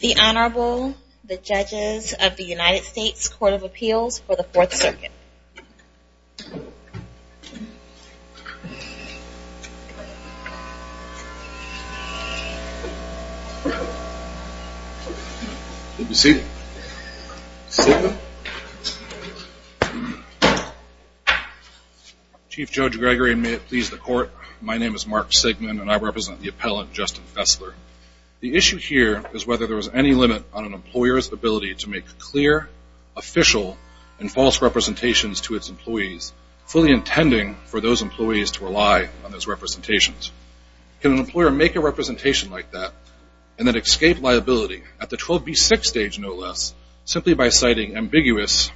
The Honorable, the Judges of the United States Court of Appeals for the Fourth Circuit. Good to see you. Chief Judge Gregory and may it please the court, my name is Mark Sigmund and I represent the appellant, Justin Fessler. The issue here is whether there was any limit on an employer's ability to make clear, official, and false representations to its employees, fully intending for those employees to rely on those representations. Can an employer make a representation like that and then escape liability at the 12B6 stage no less, simply by citing ambiguous,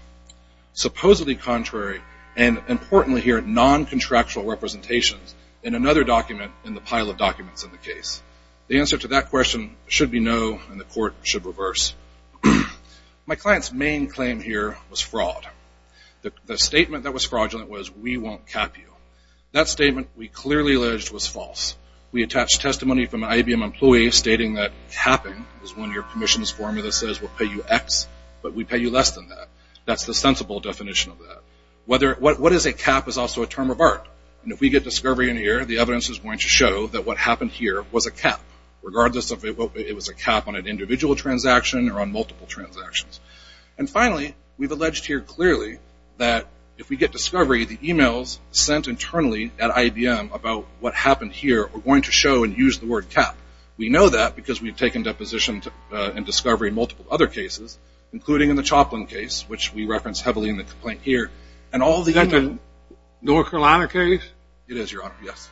supposedly contrary, and importantly here, non-contractual representations in another document in the pile of documents in the case? The answer to that question should be no and the court should reverse. My client's main claim here was fraud. The statement that was fraudulent was, we won't cap you. That statement we clearly alleged was false. We attached testimony from an IBM employee stating that capping is one of your commission's formulas that says we'll pay you X, but we pay you less than that. That's the sensible definition of that. What is a cap is also a term of art and if we get discovery in here, the evidence is going to show that what happened here was a cap, regardless if it was a cap on an individual transaction or on multiple transactions. Finally, we've alleged here clearly that if we get discovery, the emails sent internally at IBM about what happened here are going to show and use the word cap. We know that because we've taken deposition and discovery in multiple other cases, including in the Choplin case, which we reference heavily in the complaint here. Is that the North Carolina case? It is, your honor, yes.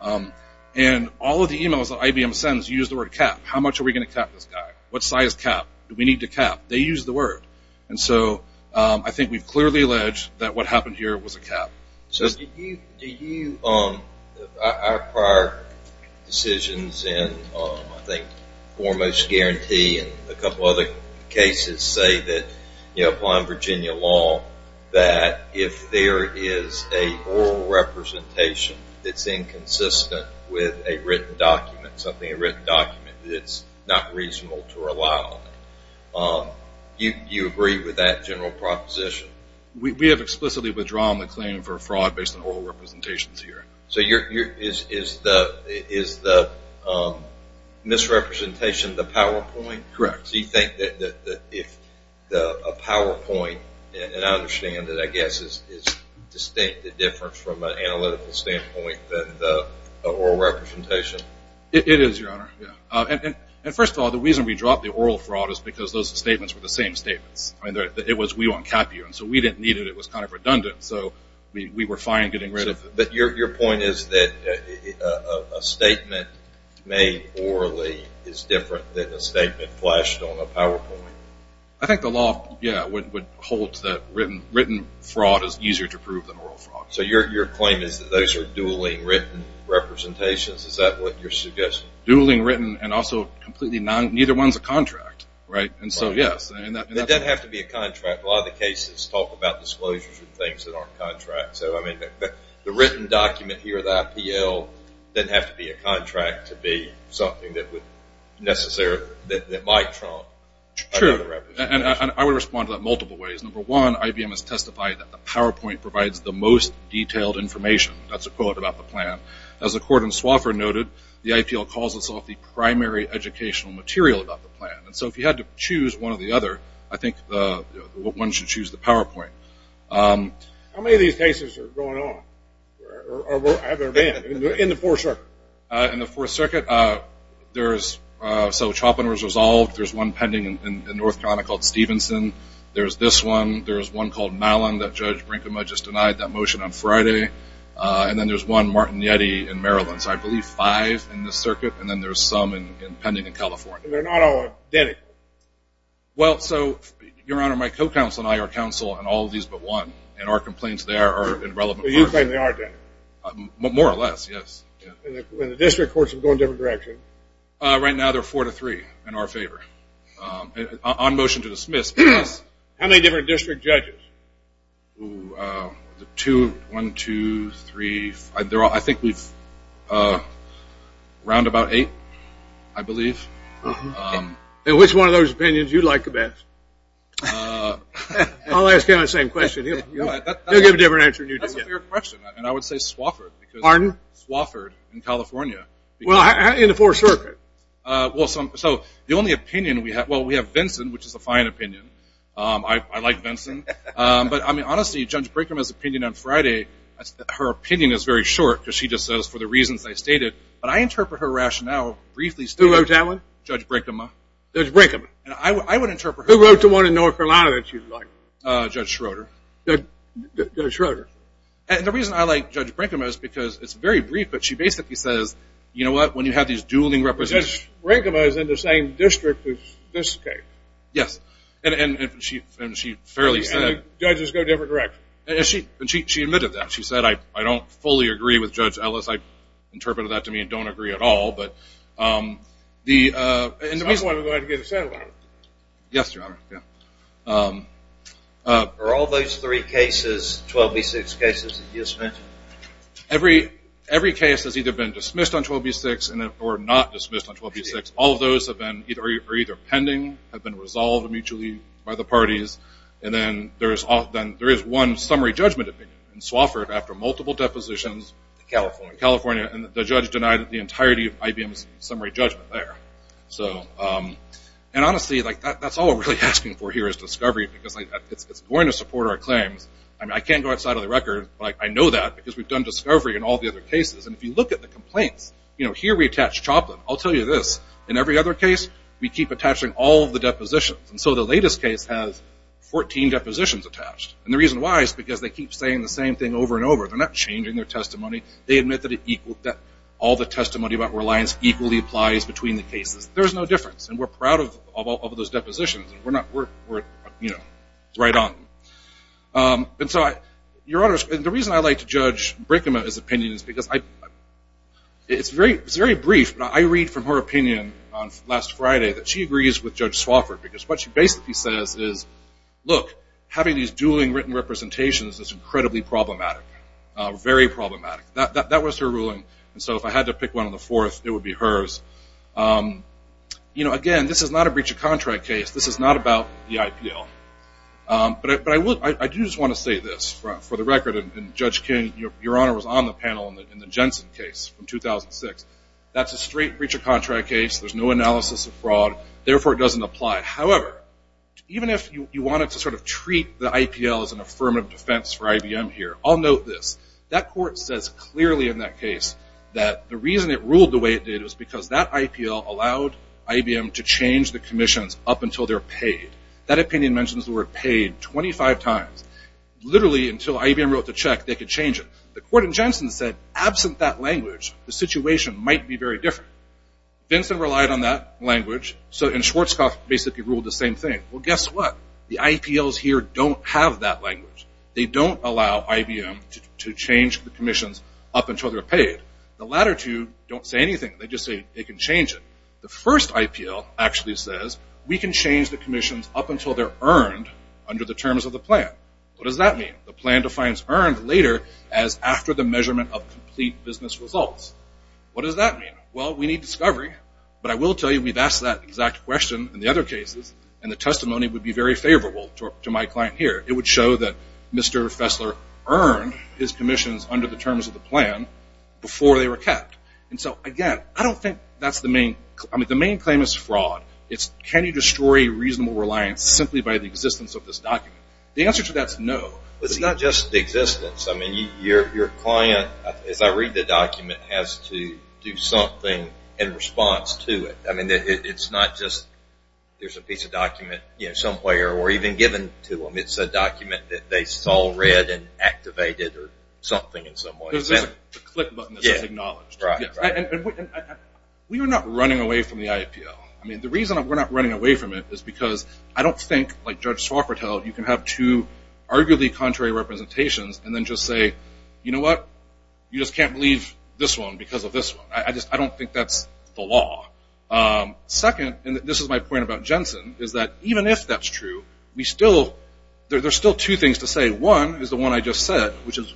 All of the emails that IBM sends use the word cap. How much are we going to cap this guy? What size cap do we need to cap? They use the word. I think we've clearly alleged that what happened here was a cap. Our prior decisions in foremost guarantee and a couple other cases say that applying Virginia law, that if there is a oral representation that's inconsistent with a written document, something a written document, it's not reasonable to rely on it. Do you agree with that general proposition? We have explicitly withdrawn the claim for fraud based on oral representations here. So is the misrepresentation the PowerPoint? Correct. Do you think that if a PowerPoint, and I understand that I guess is distinctly different from an analytical standpoint than the oral representation? It is, your honor. And first of all, the reason we dropped the oral fraud is because those statements were the same statements. It was we won't cap you. So we didn't need it. It was kind of redundant. So we were fine getting rid of it. But your point is that a statement made orally is different than a statement flashed on a PowerPoint? I think the law would hold that written fraud is easier to prove than oral fraud. So your claim is that those are dueling written representations? Is that what you're suggesting? Dueling written and also neither one is a contract. Right? And so yes. It doesn't have to be a contract. A lot of the cases talk about disclosures and things that aren't contracts. So I mean the written document here, the IPL, doesn't have to be a contract to be something that would necessarily, that might trump. Sure. And I would respond to that multiple ways. Number one, IBM has testified that the PowerPoint provides the most detailed information. That's a quote about the plan. As the court in Swofford noted, the IPL calls itself the primary educational material about the plan. And so if you had to choose one or the other, I think one should choose the PowerPoint. How many of these cases are going on? Or have there been in the Fourth Circuit? In the Fourth Circuit, there's, so Chopin was resolved. There's one pending in North Carolina called Stevenson. There's this one. There's one called Mallon that Judge Brinkema just denied that motion on Friday. And then there's one, Martin Yeti in Maryland. So I believe five in this circuit. And then there's some pending in California. And they're not all identical? Well, so, Your Honor, my co-counsel and I are counsel in all of these but one. And our complaints there are irrelevant. So you think they are identical? More or less, yes. And the district courts are going different directions? Right now, they're four to three in our favor. On motion to dismiss, yes. How many different district judges? Two, one, two, three. I think we've round about eight, I believe. And which one of those opinions do you like the best? I'll ask him the same question. He'll give a different answer than you do. That's a fair question. And I would say Swofford. Pardon? Swofford in California. Well, in the Fourth Circuit. So the only opinion we have, well, we have Vinson, which is a fine opinion. I like Vinson. But, I mean, honestly, Judge Brinkema's opinion on Friday, her opinion is very short because she just says, for the reasons I stated, but I interpret her rationale briefly. Who wrote that one? Judge Brinkema. Judge Brinkema. And I would interpret her. Who wrote the one in North Carolina that she liked? Judge Schroeder. Judge Schroeder. And the reason I like Judge Brinkema is because it's very brief, but she basically says, you know what, when you have these dueling representatives. Judge Brinkema is in the same district as this case. Yes. And she fairly said. And the judges go different directions. And she admitted that. She said, I don't fully agree with Judge Ellis. I interpreted that to mean don't agree at all. But the reason. I'm the one who had to get a settlement. Yes, Your Honor. Are all those three cases, 12B6 cases that you just mentioned? Every case has either been dismissed on 12B6 or not dismissed on 12B6. All of those are either pending, have been resolved mutually by the parties. And then there is one summary judgment opinion. It's offered after multiple depositions. In California. In California. And the judge denied the entirety of IBM's summary judgment there. And honestly, that's all we're really asking for here is discovery. Because it's going to support our claims. I mean, I can't go outside of the record. But I know that because we've done discovery in all the other cases. And if you look at the complaints, you know, here we attach Choplin. I'll tell you this. In every other case, we keep attaching all of the depositions. And so the latest case has 14 depositions attached. And the reason why is because they keep saying the same thing over and over. They're not changing their testimony. They admit that all the testimony about reliance equally applies between the cases. There's no difference. And we're proud of all of those depositions. We're, you know, it's right on. And so, Your Honors, the reason I like to judge Brickam's opinion is because it's very brief. But I read from her opinion last Friday that she agrees with Judge Swofford. Because what she basically says is, look, having these dueling written representations is incredibly problematic. Very problematic. That was her ruling. And so if I had to pick one of the fourth, it would be hers. You know, again, this is not a breach of contract case. This is not about the IPL. But I do just want to say this for the record. And, Judge King, Your Honor was on the panel in the Jensen case from 2006. That's a straight breach of contract case. There's no analysis of fraud. Therefore, it doesn't apply. However, even if you wanted to sort of treat the IPL as an affirmative defense for IBM here, I'll note this. That court says clearly in that case that the reason it ruled the way it did was because that IPL allowed IBM to change the commissions up until they're paid. That opinion mentions the word paid 25 times. Literally until IBM wrote the check, they could change it. The court in Jensen said, absent that language, the situation might be very different. Vincent relied on that language. And Schwarzkopf basically ruled the same thing. Well, guess what? The IPLs here don't have that language. They don't allow IBM to change the commissions up until they're paid. The latter two don't say anything. They just say they can change it. The first IPL actually says we can change the commissions up until they're earned under the terms of the plan. What does that mean? The plan defines earned later as after the measurement of complete business results. What does that mean? Well, we need discovery. But I will tell you we've asked that exact question in the other cases, and the testimony would be very favorable to my client here. It would show that Mr. Fessler earned his commissions under the terms of the plan before they were kept. And so, again, I don't think that's the main claim. I mean, the main claim is fraud. It's can you destroy reasonable reliance simply by the existence of this document. The answer to that is no. It's not just the existence. I mean, your client, as I read the document, has to do something in response to it. I mean, it's not just there's a piece of document somewhere or even given to them. It's a document that they saw, read, and activated or something in some way. The click button is acknowledged. We are not running away from the IAPL. I mean, the reason we're not running away from it is because I don't think, like Judge Swofford held, you can have two arguably contrary representations and then just say, you know what, you just can't believe this one because of this one. I don't think that's the law. Second, and this is my point about Jensen, is that even if that's true, there's still two things to say. One is the one I just said, which is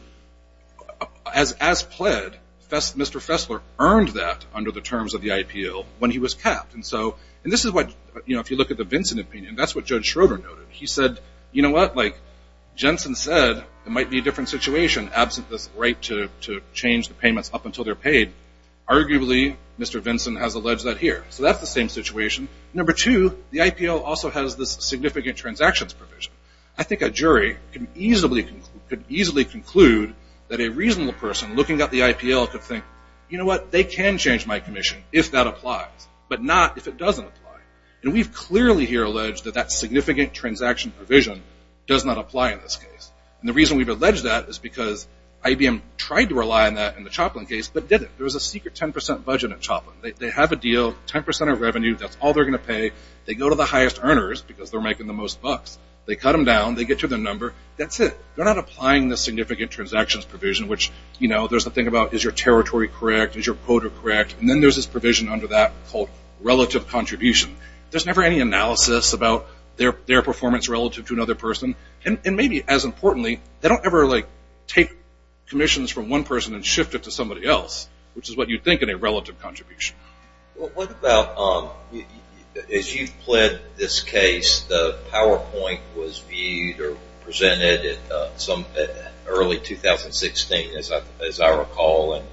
as pled, Mr. Fessler earned that under the terms of the IAPL when he was capped. And this is what, if you look at the Vinson opinion, that's what Judge Schroeder noted. He said, you know what, like Jensen said, it might be a different situation. Absent this right to change the payments up until they're paid, arguably Mr. Vinson has alleged that here. So that's the same situation. Number two, the IAPL also has this significant transactions provision. I think a jury could easily conclude that a reasonable person looking at the IAPL could think, you know what, they can change my commission if that applies, but not if it doesn't apply. And we've clearly here alleged that that significant transaction provision does not apply in this case. And the reason we've alleged that is because IBM tried to rely on that in the Choplin case, but didn't. There was a secret 10% budget at Choplin. They have a deal, 10% of revenue, that's all they're going to pay. They go to the highest earners because they're making the most bucks. They cut them down, they get to the number, that's it. They're not applying the significant transactions provision, which, you know, there's the thing about is your territory correct, is your quota correct, and then there's this provision under that called relative contribution. There's never any analysis about their performance relative to another person. And maybe as importantly, they don't ever like take commissions from one person and shift it to somebody else, which is what you'd think in a relative contribution. Well, what about as you've pled this case, the PowerPoint was viewed or presented at some early 2016, as I recall, and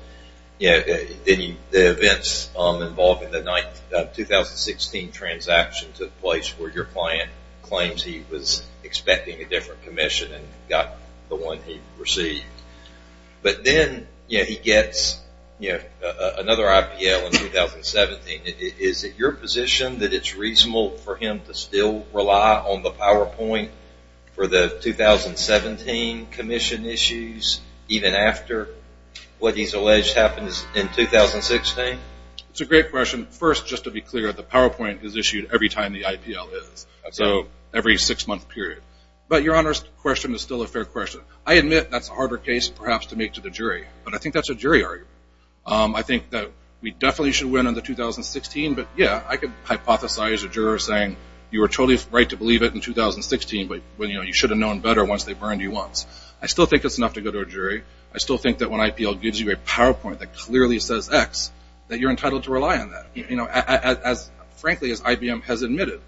the events involved in the 2016 transaction took place where your client claims he was expecting a different commission and got the one he received. But then, you know, he gets, you know, another IPL in 2017. Is it your position that it's reasonable for him to still rely on the PowerPoint for the 2017 commission issues even after what he's alleged happened in 2016? It's a great question. First, just to be clear, the PowerPoint is issued every time the IPL is, so every six-month period. But your Honor's question is still a fair question. I admit that's a harder case perhaps to make to the jury, but I think that's a jury argument. I think that we definitely should win in the 2016, but, yeah, I could hypothesize a juror saying you were totally right to believe it in 2016, but, you know, you should have known better once they burned you once. I still think it's enough to go to a jury. I still think that when IPL gives you a PowerPoint that clearly says X, that you're entitled to rely on that, you know, as frankly as IBM has admitted.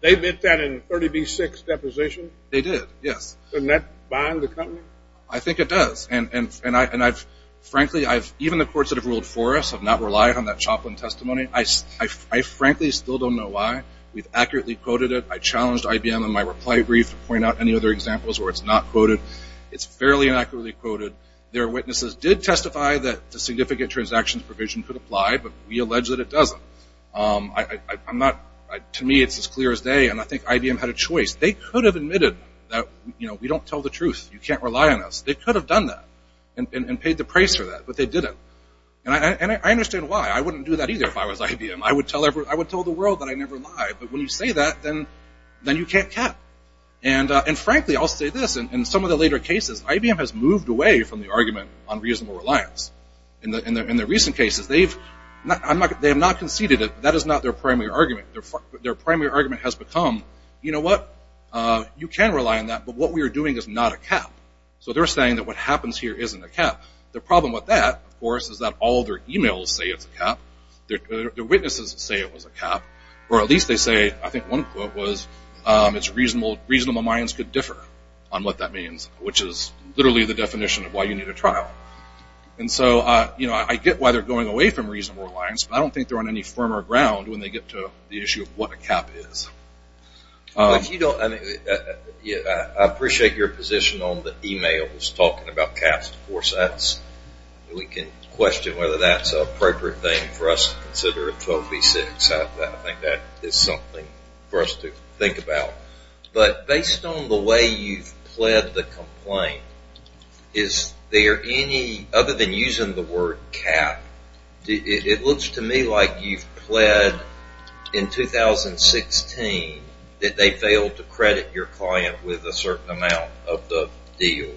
They admit that in 30b-6 deposition? They did, yes. Doesn't that bind the company? I think it does. And frankly, even the courts that have ruled for us have not relied on that Choplin testimony. I frankly still don't know why. We've accurately quoted it. I challenged IBM in my reply brief to point out any other examples where it's not quoted. It's fairly and accurately quoted. Their witnesses did testify that the significant transactions provision could apply, but we allege that it doesn't. To me, it's as clear as day, and I think IBM had a choice. They could have admitted that, you know, we don't tell the truth. You can't rely on us. They could have done that and paid the price for that, but they didn't. And I understand why. I wouldn't do that either if I was IBM. I would tell the world that I never lie, but when you say that, then you can't cap. And frankly, I'll say this, in some of the later cases, IBM has moved away from the argument on reasonable reliance. In the recent cases, they have not conceded it. That is not their primary argument. Their primary argument has become, you know what, you can rely on that, but what we are doing is not a cap. So they're saying that what happens here isn't a cap. The problem with that, of course, is that all their emails say it's a cap. Their witnesses say it was a cap. Or at least they say, I think one quote was, it's reasonable minds could differ on what that means, which is literally the definition of why you need a trial. And so, you know, I get why they're going away from reasonable reliance, but I don't think they're on any firmer ground when they get to the issue of what a cap is. I appreciate your position on the emails talking about caps. Of course, we can question whether that's an appropriate thing for us to consider a 12V6. I think that is something for us to think about. But based on the way you've pled the complaint, is there any, other than using the word cap, it looks to me like you've pled in 2016 that they failed to credit your client with a certain amount of the deal.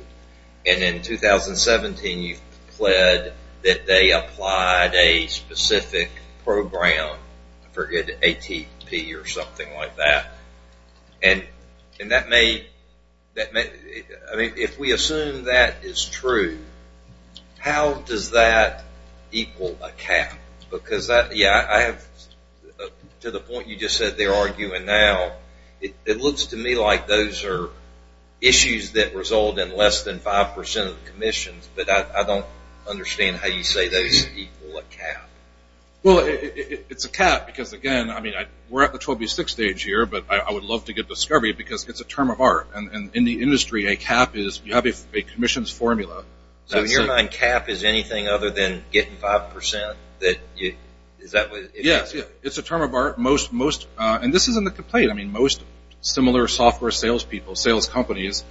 And in 2017, you've pled that they applied a specific program, I forget, ATP or something like that. And that may, I mean, if we assume that is true, how does that equal a cap? Because that, yeah, I have, to the point you just said they're arguing now, it looks to me like those are issues that result in less than 5% of the commissions, but I don't understand how you say those equal a cap. Well, it's a cap because again, I mean, we're at the 12V6 stage here, but I would love to get discovery because it's a term of art. And in the industry, a cap is you have a commissions formula. So in your mind, cap is anything other than getting 5% that you, is that what it is? Yeah, it's a term of art. And this is in the complaint, I mean, most similar software salespeople, sales companies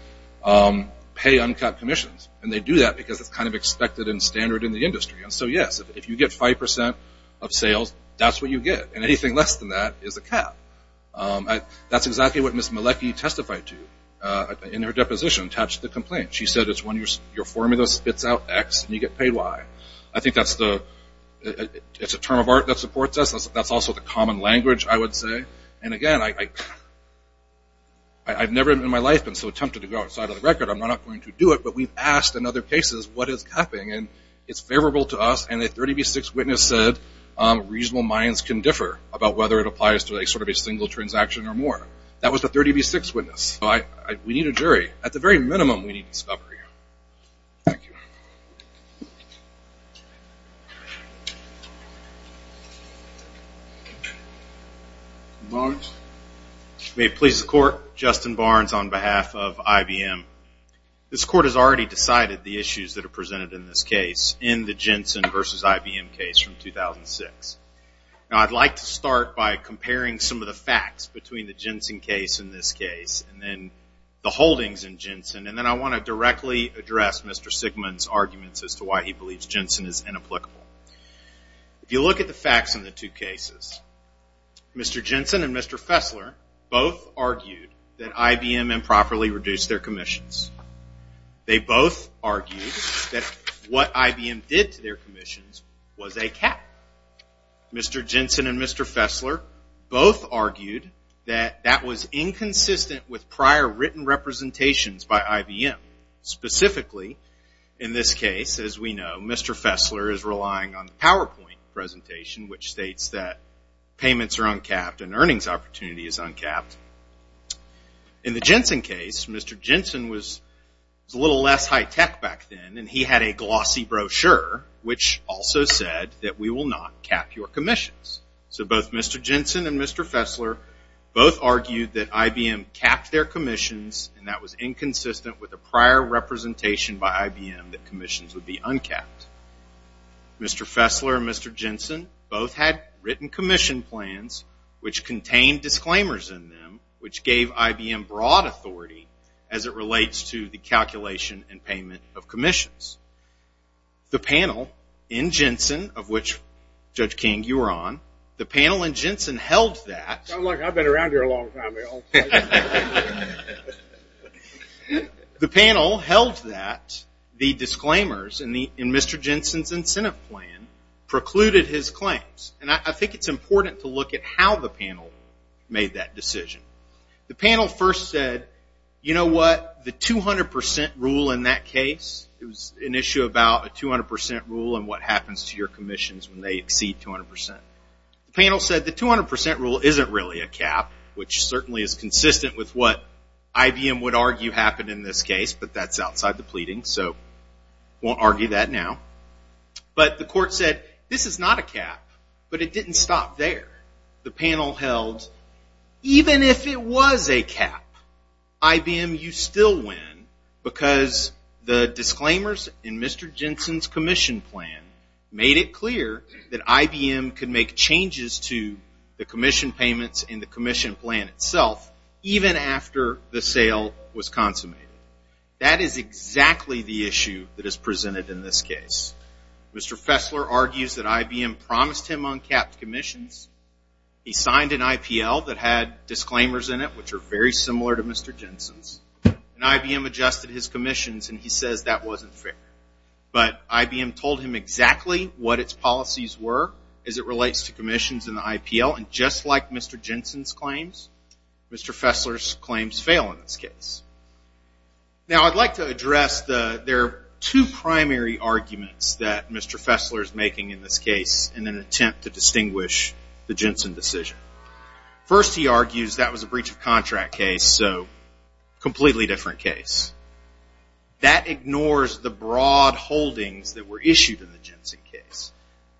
pay uncapped commissions. And they do that because it's kind of expected and standard in the industry. And so, yes, if you get 5% of sales, that's what you get. And anything less than that is a cap. That's exactly what Ms. Malecki testified to in her deposition attached to the complaint. She said it's when your formula spits out X and you get paid Y. I think that's the, it's a term of art that supports us. That's also the common language, I would say. And again, I've never in my life been so tempted to go outside of the record. I'm not going to do it, but we've asked in other cases, what is capping? And it's favorable to us. And a 30V6 witness said, reasonable minds can differ about whether it applies to sort of a single transaction or more. That was the 30V6 witness. We need a jury. At the very minimum, we need discovery. Thank you. Barnes? May it please the Court, Justin Barnes on behalf of IBM. This Court has already decided the issues that are presented in this case in the Jensen versus IBM case from 2006. Now, I'd like to start by comparing some of the facts between the Jensen case and this case and then the holdings in Jensen, and then I want to directly address Mr. Sigmund's arguments as to why he believes Jensen is inapplicable. If you look at the facts in the two cases, Mr. Jensen and Mr. Fessler both argued that IBM improperly reduced their commissions. They both argued that what IBM did to their commissions was a cap. Mr. Jensen and Mr. Fessler both argued that that was inconsistent with prior written representations by IBM. Specifically, in this case, as we know, Mr. Fessler is relying on the PowerPoint presentation, which states that payments are uncapped and earnings opportunity is uncapped. In the Jensen case, Mr. Jensen was a little less high-tech back then, and he had a glossy brochure, which also said that we will not cap your commissions. So both Mr. Jensen and Mr. Fessler both argued that IBM capped their commissions, and that was inconsistent with a prior representation by IBM that commissions would be uncapped. Mr. Fessler and Mr. Jensen both had written commission plans, which contained disclaimers in them, which gave IBM broad authority as it relates to the calculation and payment of commissions. The panel in Jensen, of which, Judge King, you were on, the panel in Jensen held that. I've been around here a long time. The panel held that the disclaimers in Mr. Jensen's incentive plan precluded his claims, and I think it's important to look at how the panel made that decision. The panel first said, you know what, the 200 percent rule in that case, it was an issue about a 200 percent rule and what happens to your commissions when they exceed 200 percent. The panel said the 200 percent rule isn't really a cap, which certainly is consistent with what IBM would argue happened in this case, but that's outside the pleading, so we won't argue that now. But the court said, this is not a cap, but it didn't stop there. The panel held, even if it was a cap, IBM, you still win, because the disclaimers in Mr. Jensen's commission plan made it clear that IBM could make changes to the commission payments and the commission plan itself, even after the sale was consummated. That is exactly the issue that is presented in this case. Mr. Fessler argues that IBM promised him uncapped commissions. He signed an IPL that had disclaimers in it, which are very similar to Mr. Jensen's, and IBM adjusted his commissions, and he says that wasn't fair. But IBM told him exactly what its policies were as it relates to commissions in the IPL, and just like Mr. Jensen's claims, Mr. Fessler's claims fail in this case. Now, I'd like to address, there are two primary arguments that Mr. Fessler is making in this case in an attempt to distinguish the Jensen decision. First, he argues that was a breach of contract case, so completely different case. That ignores the broad holdings that were issued in the Jensen case.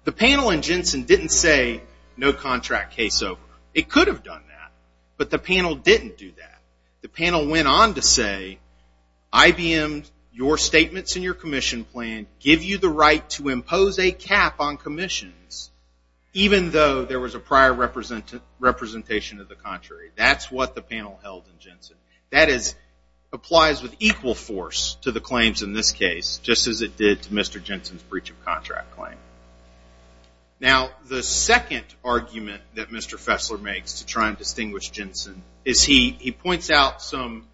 The panel in Jensen didn't say no contract case over. It could have done that, but the panel didn't do that. The panel went on to say, IBM, your statements in your commission plan give you the right to impose a cap on commissions, even though there was a prior representation of the contrary. That's what the panel held in Jensen. That applies with equal force to the claims in this case, just as it did to Mr. Jensen's breach of contract claim. Now, the second argument that Mr. Fessler makes to try and distinguish Jensen is he points out some,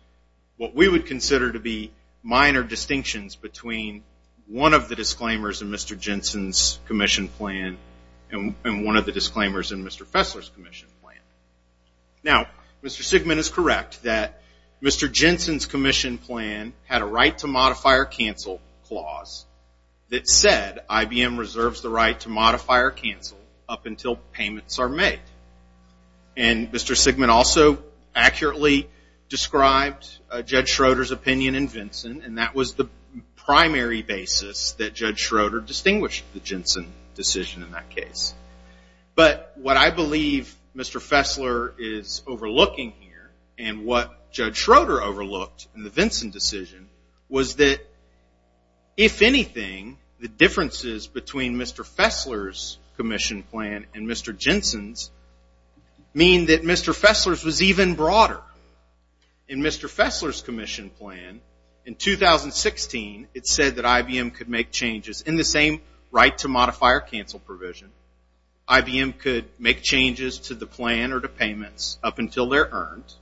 what we would consider to be, minor distinctions between one of the disclaimers in Mr. Jensen's commission plan and one of the disclaimers in Mr. Fessler's commission plan. Now, Mr. Sigmund is correct that Mr. Jensen's commission plan had a right to modify or cancel clause that said IBM reserves the right to modify or cancel up until payments are made. And Mr. Sigmund also accurately described Judge Schroeder's opinion in Vinson, and that was the primary basis that Judge Schroeder distinguished the Jensen decision in that case. But what I believe Mr. Fessler is overlooking here, and what Judge Schroeder overlooked in the Vinson decision, was that, if anything, the differences between Mr. Fessler's commission plan and Mr. Jensen's mean that Mr. Fessler's was even broader. In Mr. Fessler's commission plan, in 2016, it said that IBM could make changes in the same right to modify or cancel provision. IBM could make changes to the plan or to payments up until they're earned.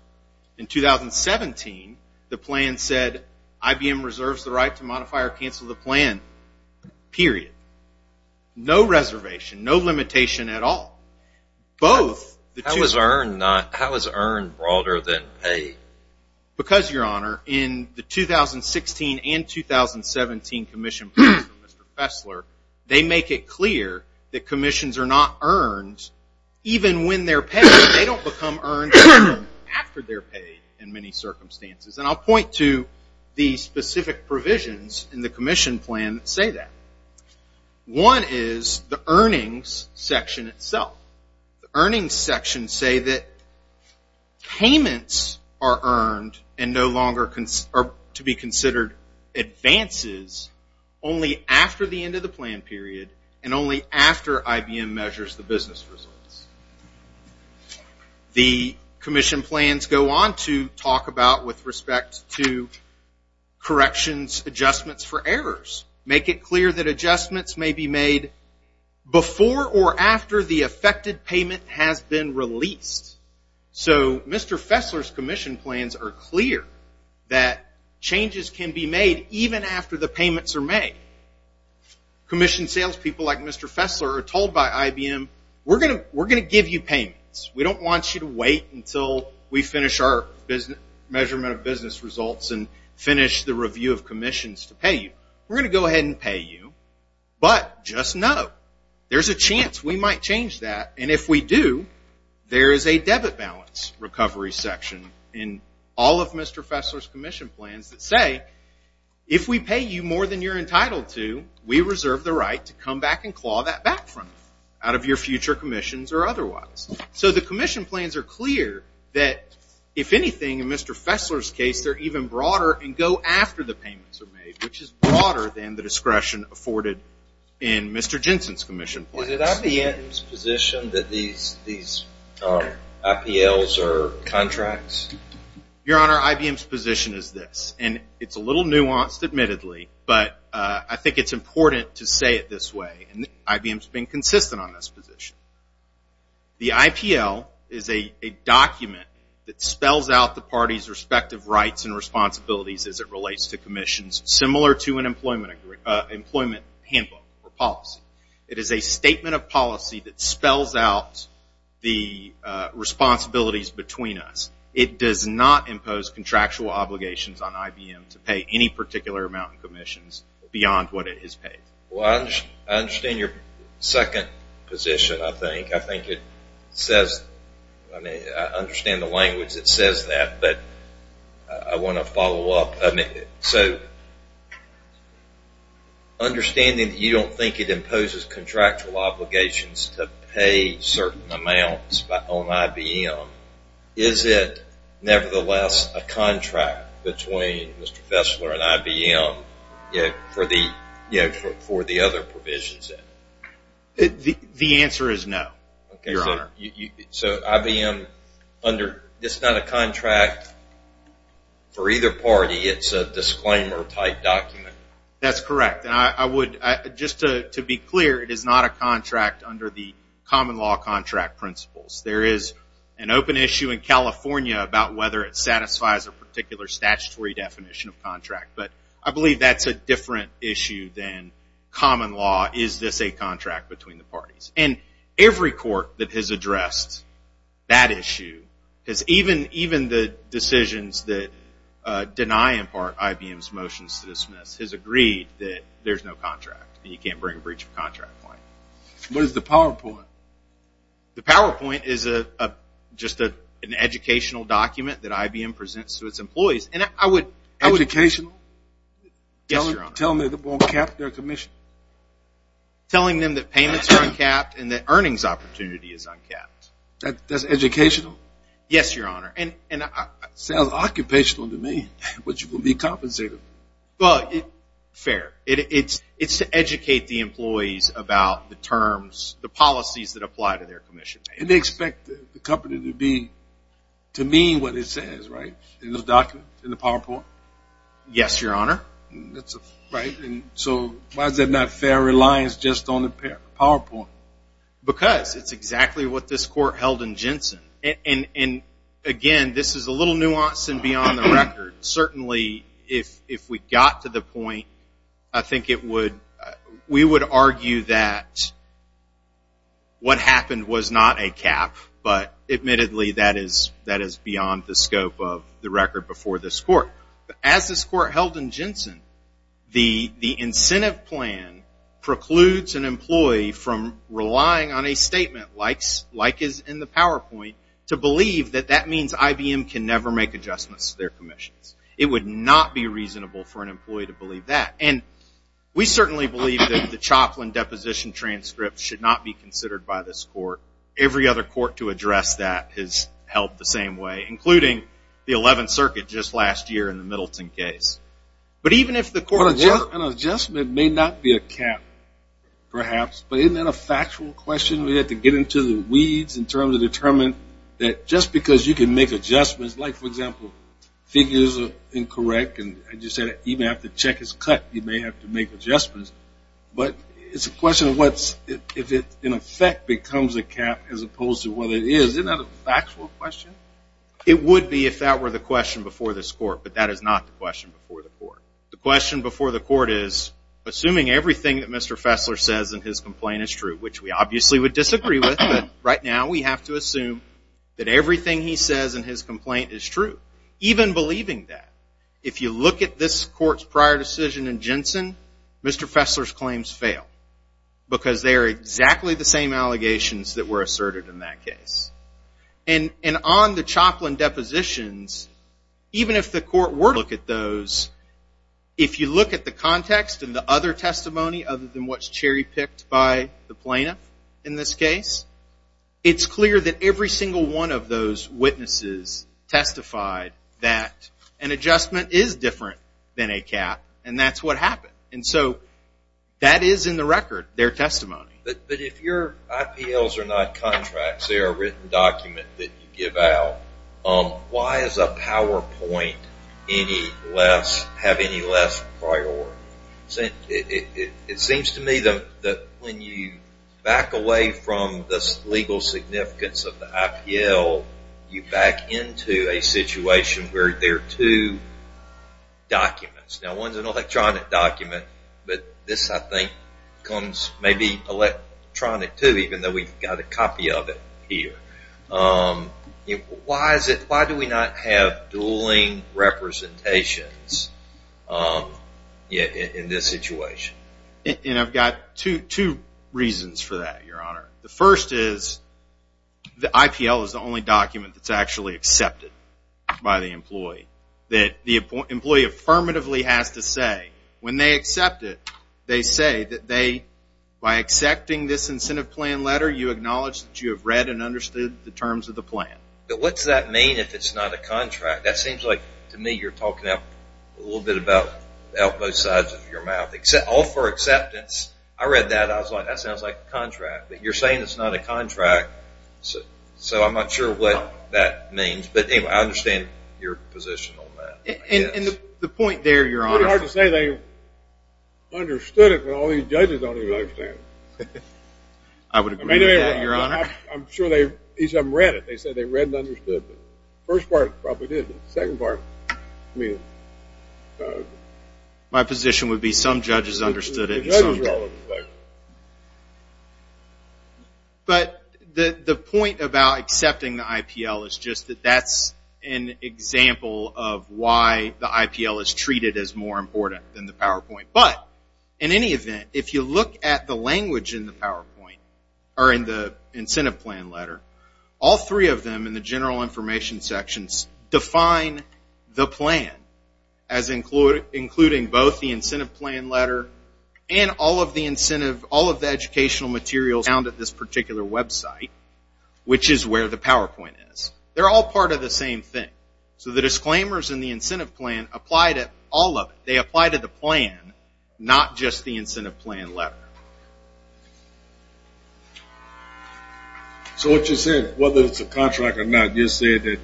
In 2017, the plan said IBM reserves the right to modify or cancel the plan, period. No reservation, no limitation at all. How is earn broader than pay? Because, Your Honor, in the 2016 and 2017 commission plans from Mr. Fessler, they make it clear that commissions are not earned even when they're paid. They don't become earned after they're paid in many circumstances. And I'll point to the specific provisions in the commission plan that say that. One is the earnings section itself. The earnings section say that payments are earned and no longer to be considered advances only after the end of the plan period and only after IBM measures the business results. The commission plans go on to talk about with respect to corrections adjustments for errors. Make it clear that adjustments may be made before or after the affected payment has been released. So Mr. Fessler's commission plans are clear that changes can be made even after the payments are made. Commission sales people like Mr. Fessler are told by IBM, we're going to give you payments. We don't want you to wait until we finish our go ahead and pay you, but just know there's a chance we might change that. And if we do, there is a debit balance recovery section in all of Mr. Fessler's commission plans that say, if we pay you more than you're entitled to, we reserve the right to come back and claw that back from you out of your future commissions or otherwise. So the commission plans are clear that, if anything, in Mr. Fessler's case, they're even broader and go after the payments are made, which is broader than the discretion afforded in Mr. Jensen's commission plans. Is it IBM's position that these IPLs are contracts? Your Honor, IBM's position is this, and it's a little nuanced admittedly, but I think it's important to say it this way, and IBM's been consistent on this position. The IPL is a document that spells out the parties' respective rights and responsibilities as it relates to commissions, similar to an employment handbook or policy. It is a statement of policy that spells out the responsibilities between us. It does not impose contractual obligations on IBM to pay any particular amount in commissions beyond what it has paid. Well, I understand your second position, I think. I think it says, I mean, I understand the language that says that, but I want to follow up. So understanding that you don't think it imposes contractual obligations to pay certain amounts on IBM, is it nevertheless a contract between Mr. Fessler and IBM for the other provisions? The answer is no, Your Honor. So IBM, it's not a contract for either party, it's a disclaimer type document? That's correct. And I would, just to be clear, it is not a contract under the common law contract principles. There is an open issue in California about whether it satisfies a particular statutory definition of contract, but I believe that's a different issue than common law, is this a contract between the parties? And every court that has addressed that issue, because even the decisions that deny in part IBM's motions to dismiss, has agreed that there's no contract, and you can't bring a breach of contract claim. What is the PowerPoint? The PowerPoint is just an educational document that IBM presents to its employees. Educational? Yes, Your Honor. Telling them they won't cap their commission? Telling them that payments are uncapped and that earnings opportunity is uncapped. That's educational? Yes, Your Honor. Sounds occupational to me, which will be compensated. Fair. It's to educate the employees about the terms, the policies that apply to their commission. And they expect the company to be, to mean what it says, right, in the document, in the PowerPoint? Yes, Your Honor. So why is that not fair reliance just on the PowerPoint? Because it's exactly what this court held in Jensen. And again, this is a little nuance and beyond the record. Certainly if we got to the point, I think it would, we would argue that what happened was not a cap, but admittedly that is beyond the scope of the record before this court. As this court held in Jensen, the incentive plan precludes an employee from relying on a statement like is in the PowerPoint to believe that that means IBM can never make adjustments to their commissions. It would not be reasonable for an employee to believe that. And we certainly believe that the Choplin deposition transcript should not be considered by this court. Every other court to address that has held the same way, including the 11th Circuit just last year in the perhaps. But isn't that a factual question? We have to get into the weeds in terms of determining that just because you can make adjustments, like for example, figures are incorrect, and as you said, even if the check is cut, you may have to make adjustments. But it's a question of what's, if it in effect becomes a cap as opposed to what it is. Isn't that a factual question? It would be if that were the question before this court, but that is not the question before the court. The question before the court is, assuming everything that Mr. Fessler says in his complaint is true, which we obviously would disagree with, but right now we have to assume that everything he says in his complaint is true. Even believing that. If you look at this court's prior decision in Jensen, Mr. Fessler's claims fail. Because they are exactly the same allegations that were asserted in that case. And on the Choplin depositions, even if the court were to look at those, if you look at the context and the other testimony other than what's cherry picked by the plaintiff in this case, it's clear that every single one of those witnesses testified that an adjustment is different than a cap, and that's what happened. And so that is in the document that you give out. Why does a PowerPoint have any less priority? It seems to me that when you back away from the legal significance of the IPL, you back into a situation where there are two documents. Now one is an electronic document, but this I think becomes maybe electronic too, even though we've got a copy of it here. Why do we not have dueling representations in this situation? And I've got two reasons for that, Your Honor. The first is the IPL is the only document that's actually accepted by the employee. That the employee, by accepting this incentive plan letter, you acknowledge that you have read and understood the terms of the plan. But what's that mean if it's not a contract? That seems like to me you're talking a little bit about both sides of your mouth. All for acceptance. I read that and I was like, that sounds like a contract. But you're saying it's not a contract, so I'm not sure what that means. But anyway, I understand your position on that. It's pretty hard to say they understood it, but all these judges don't even understand it. I would agree with that, Your Honor. I'm sure they each of them read it. They said they read and understood it. The first part probably did, but the second part, I mean. My position would be some judges understood it and some didn't. But the point about accepting the IPL is just that that's an example of why the IPL is treated as more important than the PowerPoint. But in any event, if you look at the language in the incentive plan letter, all three of them in the general information sections define the plan as including both the incentive plan letter and all of the educational materials found at this particular website, which is where the PowerPoint is. They're all part of the same thing. So the disclaimers in the incentive plan apply to all of it. They apply to the plan, not just the incentive plan letter. So what you said, whether it's a contract or not, you said that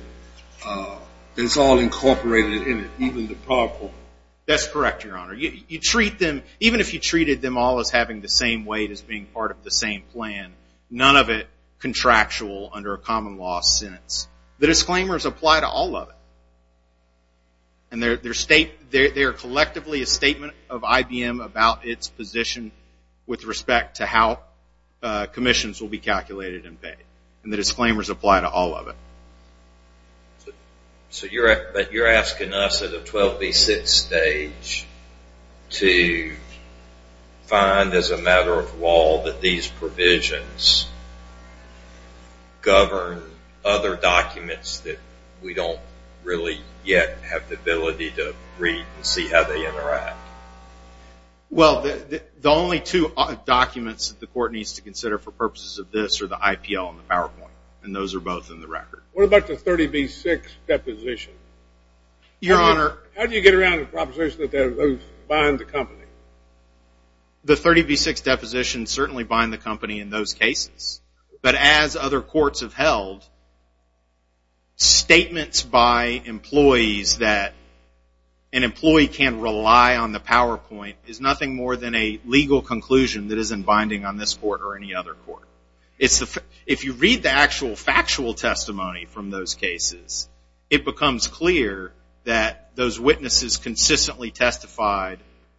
it's all incorporated in it, even the PowerPoint. That's correct, Your Honor. Even if you treated them all as having the same weight as being part of the same plan, none of it contractual under a common law sentence. The disclaimers apply to all of it. They're collectively a statement of IBM about its position with respect to how commissions will be calculated and paid. And the disclaimers apply to all of it. So you're asking us at a 12B6 stage to find as a matter of law that these provisions govern other documents that we don't really yet have the ability to read and see how they interact. Well, the only two documents that the court needs to consider for purposes of this are the IPL and the PowerPoint. And those are both in the record. What about the 30B6 deposition? How do you get around the proposition that those bind the company? The 30B6 deposition certainly bind the company in those cases. But as other courts have held, statements by employees that an employee can rely on the PowerPoint is nothing more than a legal conclusion that isn't binding on this court or any other court. If you read the actual factual testimony from those cases, it becomes clear that those witnesses consistently testified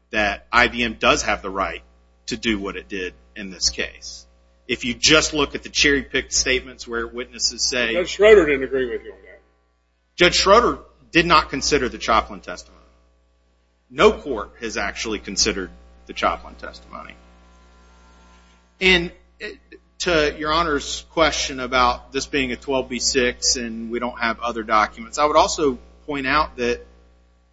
that IBM does have the right to do what it did in this case. If you just look at the cherry-picked statements where witnesses say Judge Schroeder did not consider the Choplin testimony. No court has actually considered the Choplin testimony. And to your Honor's question about this being a 12B6 and we don't have other documents, I would also point out that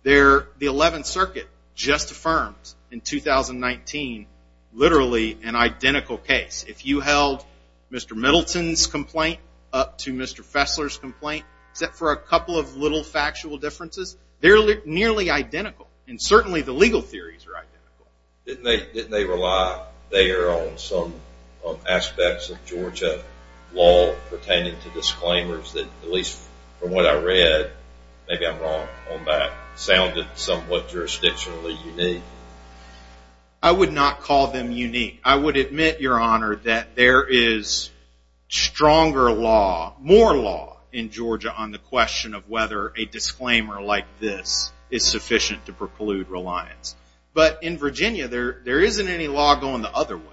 the 11th Circuit just affirmed in 2019 literally an identical case. If you held Mr. Middleton's complaint up to Mr. Fessler's complaint, except for a couple of little factual differences, they're nearly identical. And certainly the legal theories are identical. Didn't they rely there on some aspects of Georgia law pertaining to disclaimers that, at least from what I read, maybe I'm wrong, but sounded somewhat jurisdictionally unique? I would not call them unique. I would admit, Your Honor, that there is stronger law, more law, in Georgia on the question of whether a disclaimer like this is sufficient to preclude reliance. But in Virginia, there isn't any law going the other way.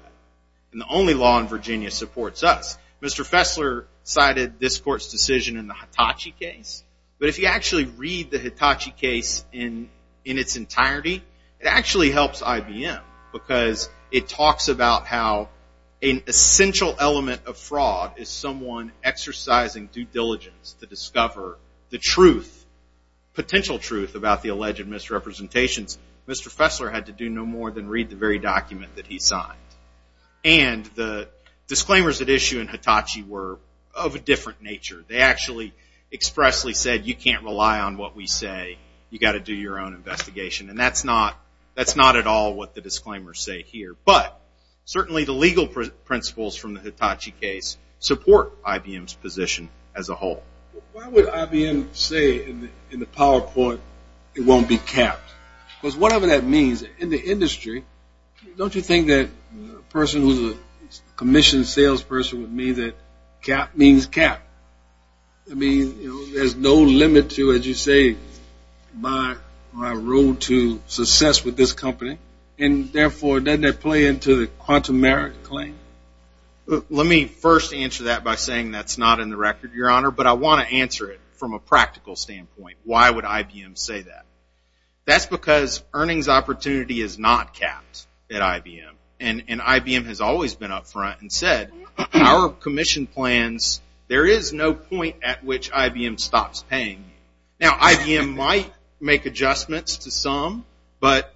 And the only law in Virginia supports us. Mr. Fessler cited this court's decision in the Hitachi case. But if you actually read the Hitachi case in its entirety, it actually helps IBM because it talks about how an essential element of fraud is someone exercising due diligence to discover the truth, potential truth, about the alleged misrepresentations. Mr. Fessler had to do no more than read the very document that he signed. And the disclaimers at issue in Hitachi were of a different nature. They actually expressly said, You can't rely on what we say. You've got to do your own investigation. And that's not at all what the disclaimers say here. But certainly the legal principles from the Hitachi case support IBM's position as a whole. Why would IBM say in the Don't you think that a person who's a commissioned salesperson would mean that cap means cap? I mean, there's no limit to, as you say, my role to success with this company. And therefore, doesn't that play into the quantum merit claim? Let me first answer that by saying that's not in the record, Your Honor. But I want to answer it from a practical standpoint. Why would IBM say that? That's because earnings opportunity is not capped at IBM. And IBM has always been up front and said, Our commission plans, there is no point at which IBM stops paying you. Now, IBM might make adjustments to some, but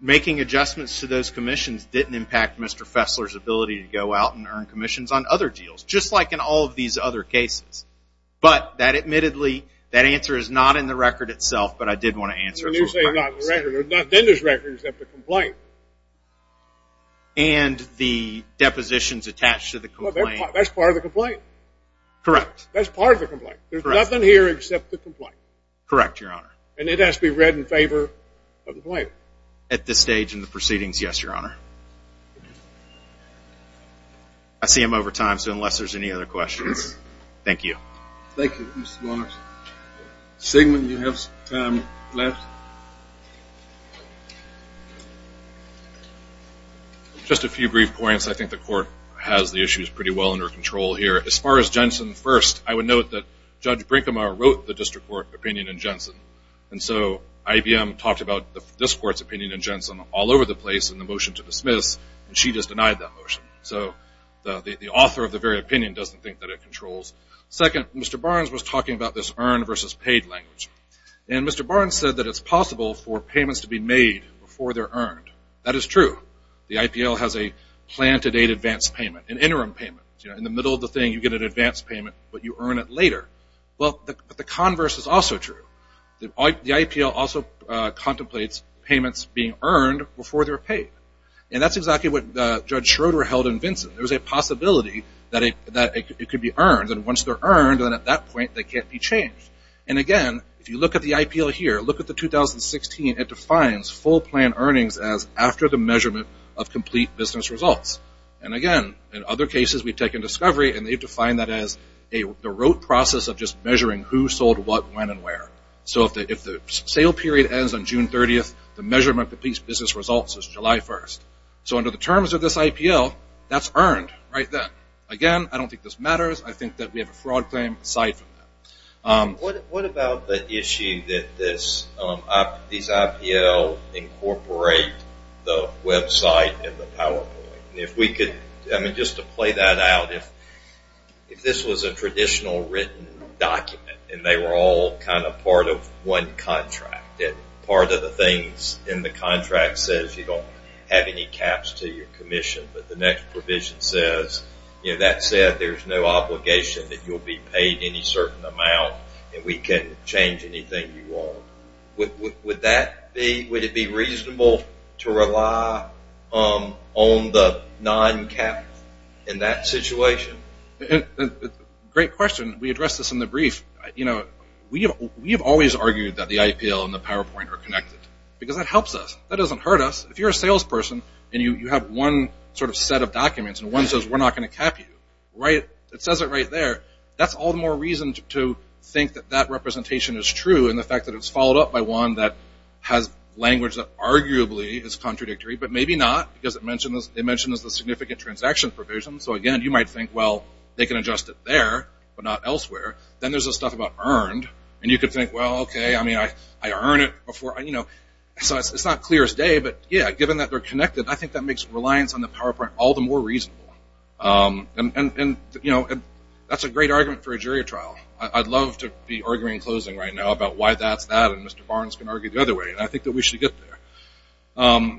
making adjustments to those commissions didn't impact Mr. Fessler's ability to go out and earn commissions on other deals, just like in all of these other cases. But that admittedly, that answer is not in the record itself, but I did want to answer it. You say it's not in the record. It's not in the record except the complaint. And the depositions attached to the complaint. That's part of the complaint. Correct. That's part of the complaint. There's nothing here except the complaint. Correct, Your Honor. And it has to be read in favor of the complaint. At this stage in the proceedings, yes, Your Honor. I see I'm over time, so unless there's any other questions. Thank you. Thank you, Mr. Barnes. Sigmund, you have some time left? Just a few brief points. I think the court has the issues pretty well under control here. As far as Jensen first, I would note that Judge Brinkema wrote the district court opinion in Jensen. And so IBM talked about this court's opinion in Jensen all over the place in the motion to dismiss, and she just denied that motion. So the author of the very opinion doesn't think that it controls. Second, Mr. Barnes was talking about this earn versus paid language. And Mr. Barnes said that it's possible for payments to be made before they're earned. That is true. The IPL has a plan to date advance payment, an interim payment. In the middle of the thing, you get an advance payment, but you earn it later. But the converse is also true. The IPL also contemplates payments being earned before they're paid. And that's exactly what Judge Schroeder held in Vinson. There's a possibility that it could be earned. And once they're earned, then at that point, they can't be changed. And again, if you look at the IPL here, look at the 2016. It defines full plan earnings as after the measurement of complete business results. And again, in other cases, we've taken discovery, and they've defined that as the rote process of just measuring who sold what, when, and where. So if the sale period ends on June 30th, the measurement of the business results is July 1st. So under the terms of this IPL, that's earned right then. Again, I don't think this matters. I think that we have a fraud claim aside from that. What about the issue that these IPL incorporate the website and the PowerPoint? Just to play that out, if this was a traditional written document, and they were all kind of part of one contract, and part of the things in the contract says you don't have any caps to your commission, but the next provision says, you know, that said, there's no obligation that you'll be paid any certain amount, and we can change anything you want. Would that be, would it be reasonable to rely on the non-cap in that situation? Great question. We addressed this in the brief. You know, we have always argued that the IPL and the PowerPoint are connected, because that helps us. That doesn't hurt us. If you're a salesperson, and you have one sort of set of documents, and one says we're not going to cap you, it says it right there, that's all the more reason to think that that representation is true, and the fact that it's followed up by one that has language that arguably is contradictory, but maybe not, because it mentions the significant transaction provision. So again, you might think, well, they can adjust it there, but not elsewhere. Then there's this stuff about earned, and you could think, well, okay, I mean, I earned it before, you know, so it's not clear as day, but yeah, given that they're connected, I think that makes reliance on the PowerPoint all the more reasonable, and, you know, that's a great argument for a jury trial. I'd love to be arguing in closing right now about why that's that, and Mr. Barnes can argue the other way, and I think that we should get there.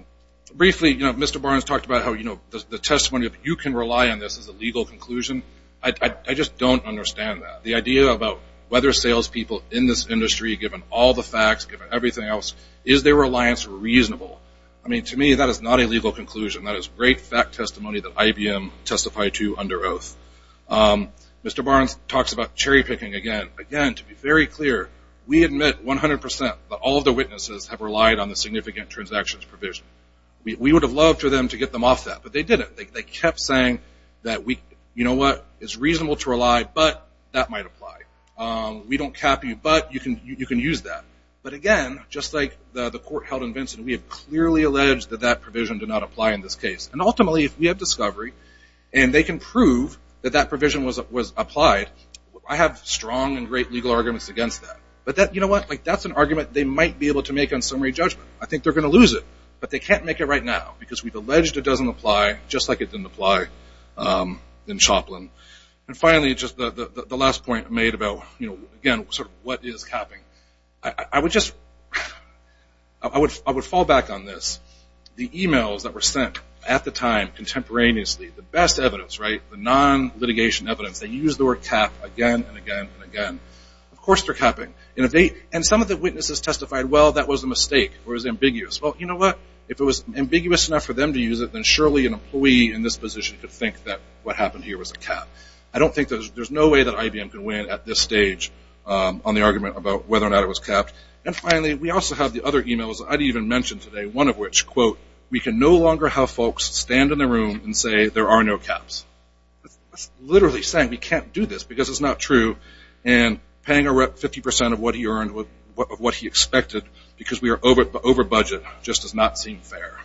Briefly, you know, Mr. Barnes talked about how, you know, the testimony of you can rely on this as a legal conclusion. I just don't understand that. The idea about whether salespeople in this industry, given all the facts, given everything else, is their reliance reasonable? I mean, to me, that is not a legal conclusion. That is great fact testimony that IBM testified to under oath. Mr. Barnes talks about cherry-picking again. Again, to be very clear, we admit 100% that all of the witnesses have relied on the significant transactions provision. We would have loved for them to get them off that, but they didn't. They kept saying, you know what, it's reasonable to rely, but that might apply. We don't cap you, but you can use that, but again, just like the court held in Vincent, we have clearly alleged that that provision did not apply in this case, and ultimately, if we have discovery, and they can prove that that provision was applied, I have strong and great legal arguments against that, but that's an argument they might be able to make on summary judgment. I think they're going to lose it, but they can't make it right now, because we've alleged it doesn't apply, just like it didn't apply in Choplin. And finally, just the last point I made about, again, what is capping? I would fall back on this. The emails that were sent at the time contemporaneously, the best evidence, the non-litigation evidence, they used the word cap again and again and again. Of course they're capping, and some of the witnesses testified, well, that was a mistake, or it was ambiguous. Well, you know what, if it was ambiguous enough for them to use it, then surely an employee in this position could think that what happened here was a cap. I don't think there's no way that IBM could win at this stage on the argument about whether or not it was capped. And finally, we also have the other emails that I didn't even mention today, one of which, quote, we can no longer have folks stand in a room and say there are no caps. That's literally saying we can't do this because it's not true, and paying a rep 50% of what he expected because we are over budget just does not seem fair.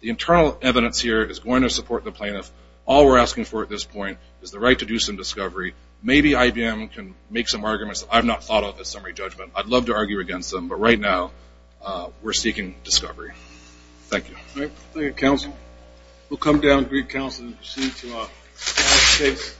The internal evidence here is going to support the plaintiff. All we're asking for at this point is the right to do some discovery. Maybe IBM can make some arguments that I've not thought of as summary judgment. I'd love to argue against them, but right now we're seeking discovery. Thank you. Thank you, counsel. We'll come down and greet counsel and proceed to our next case.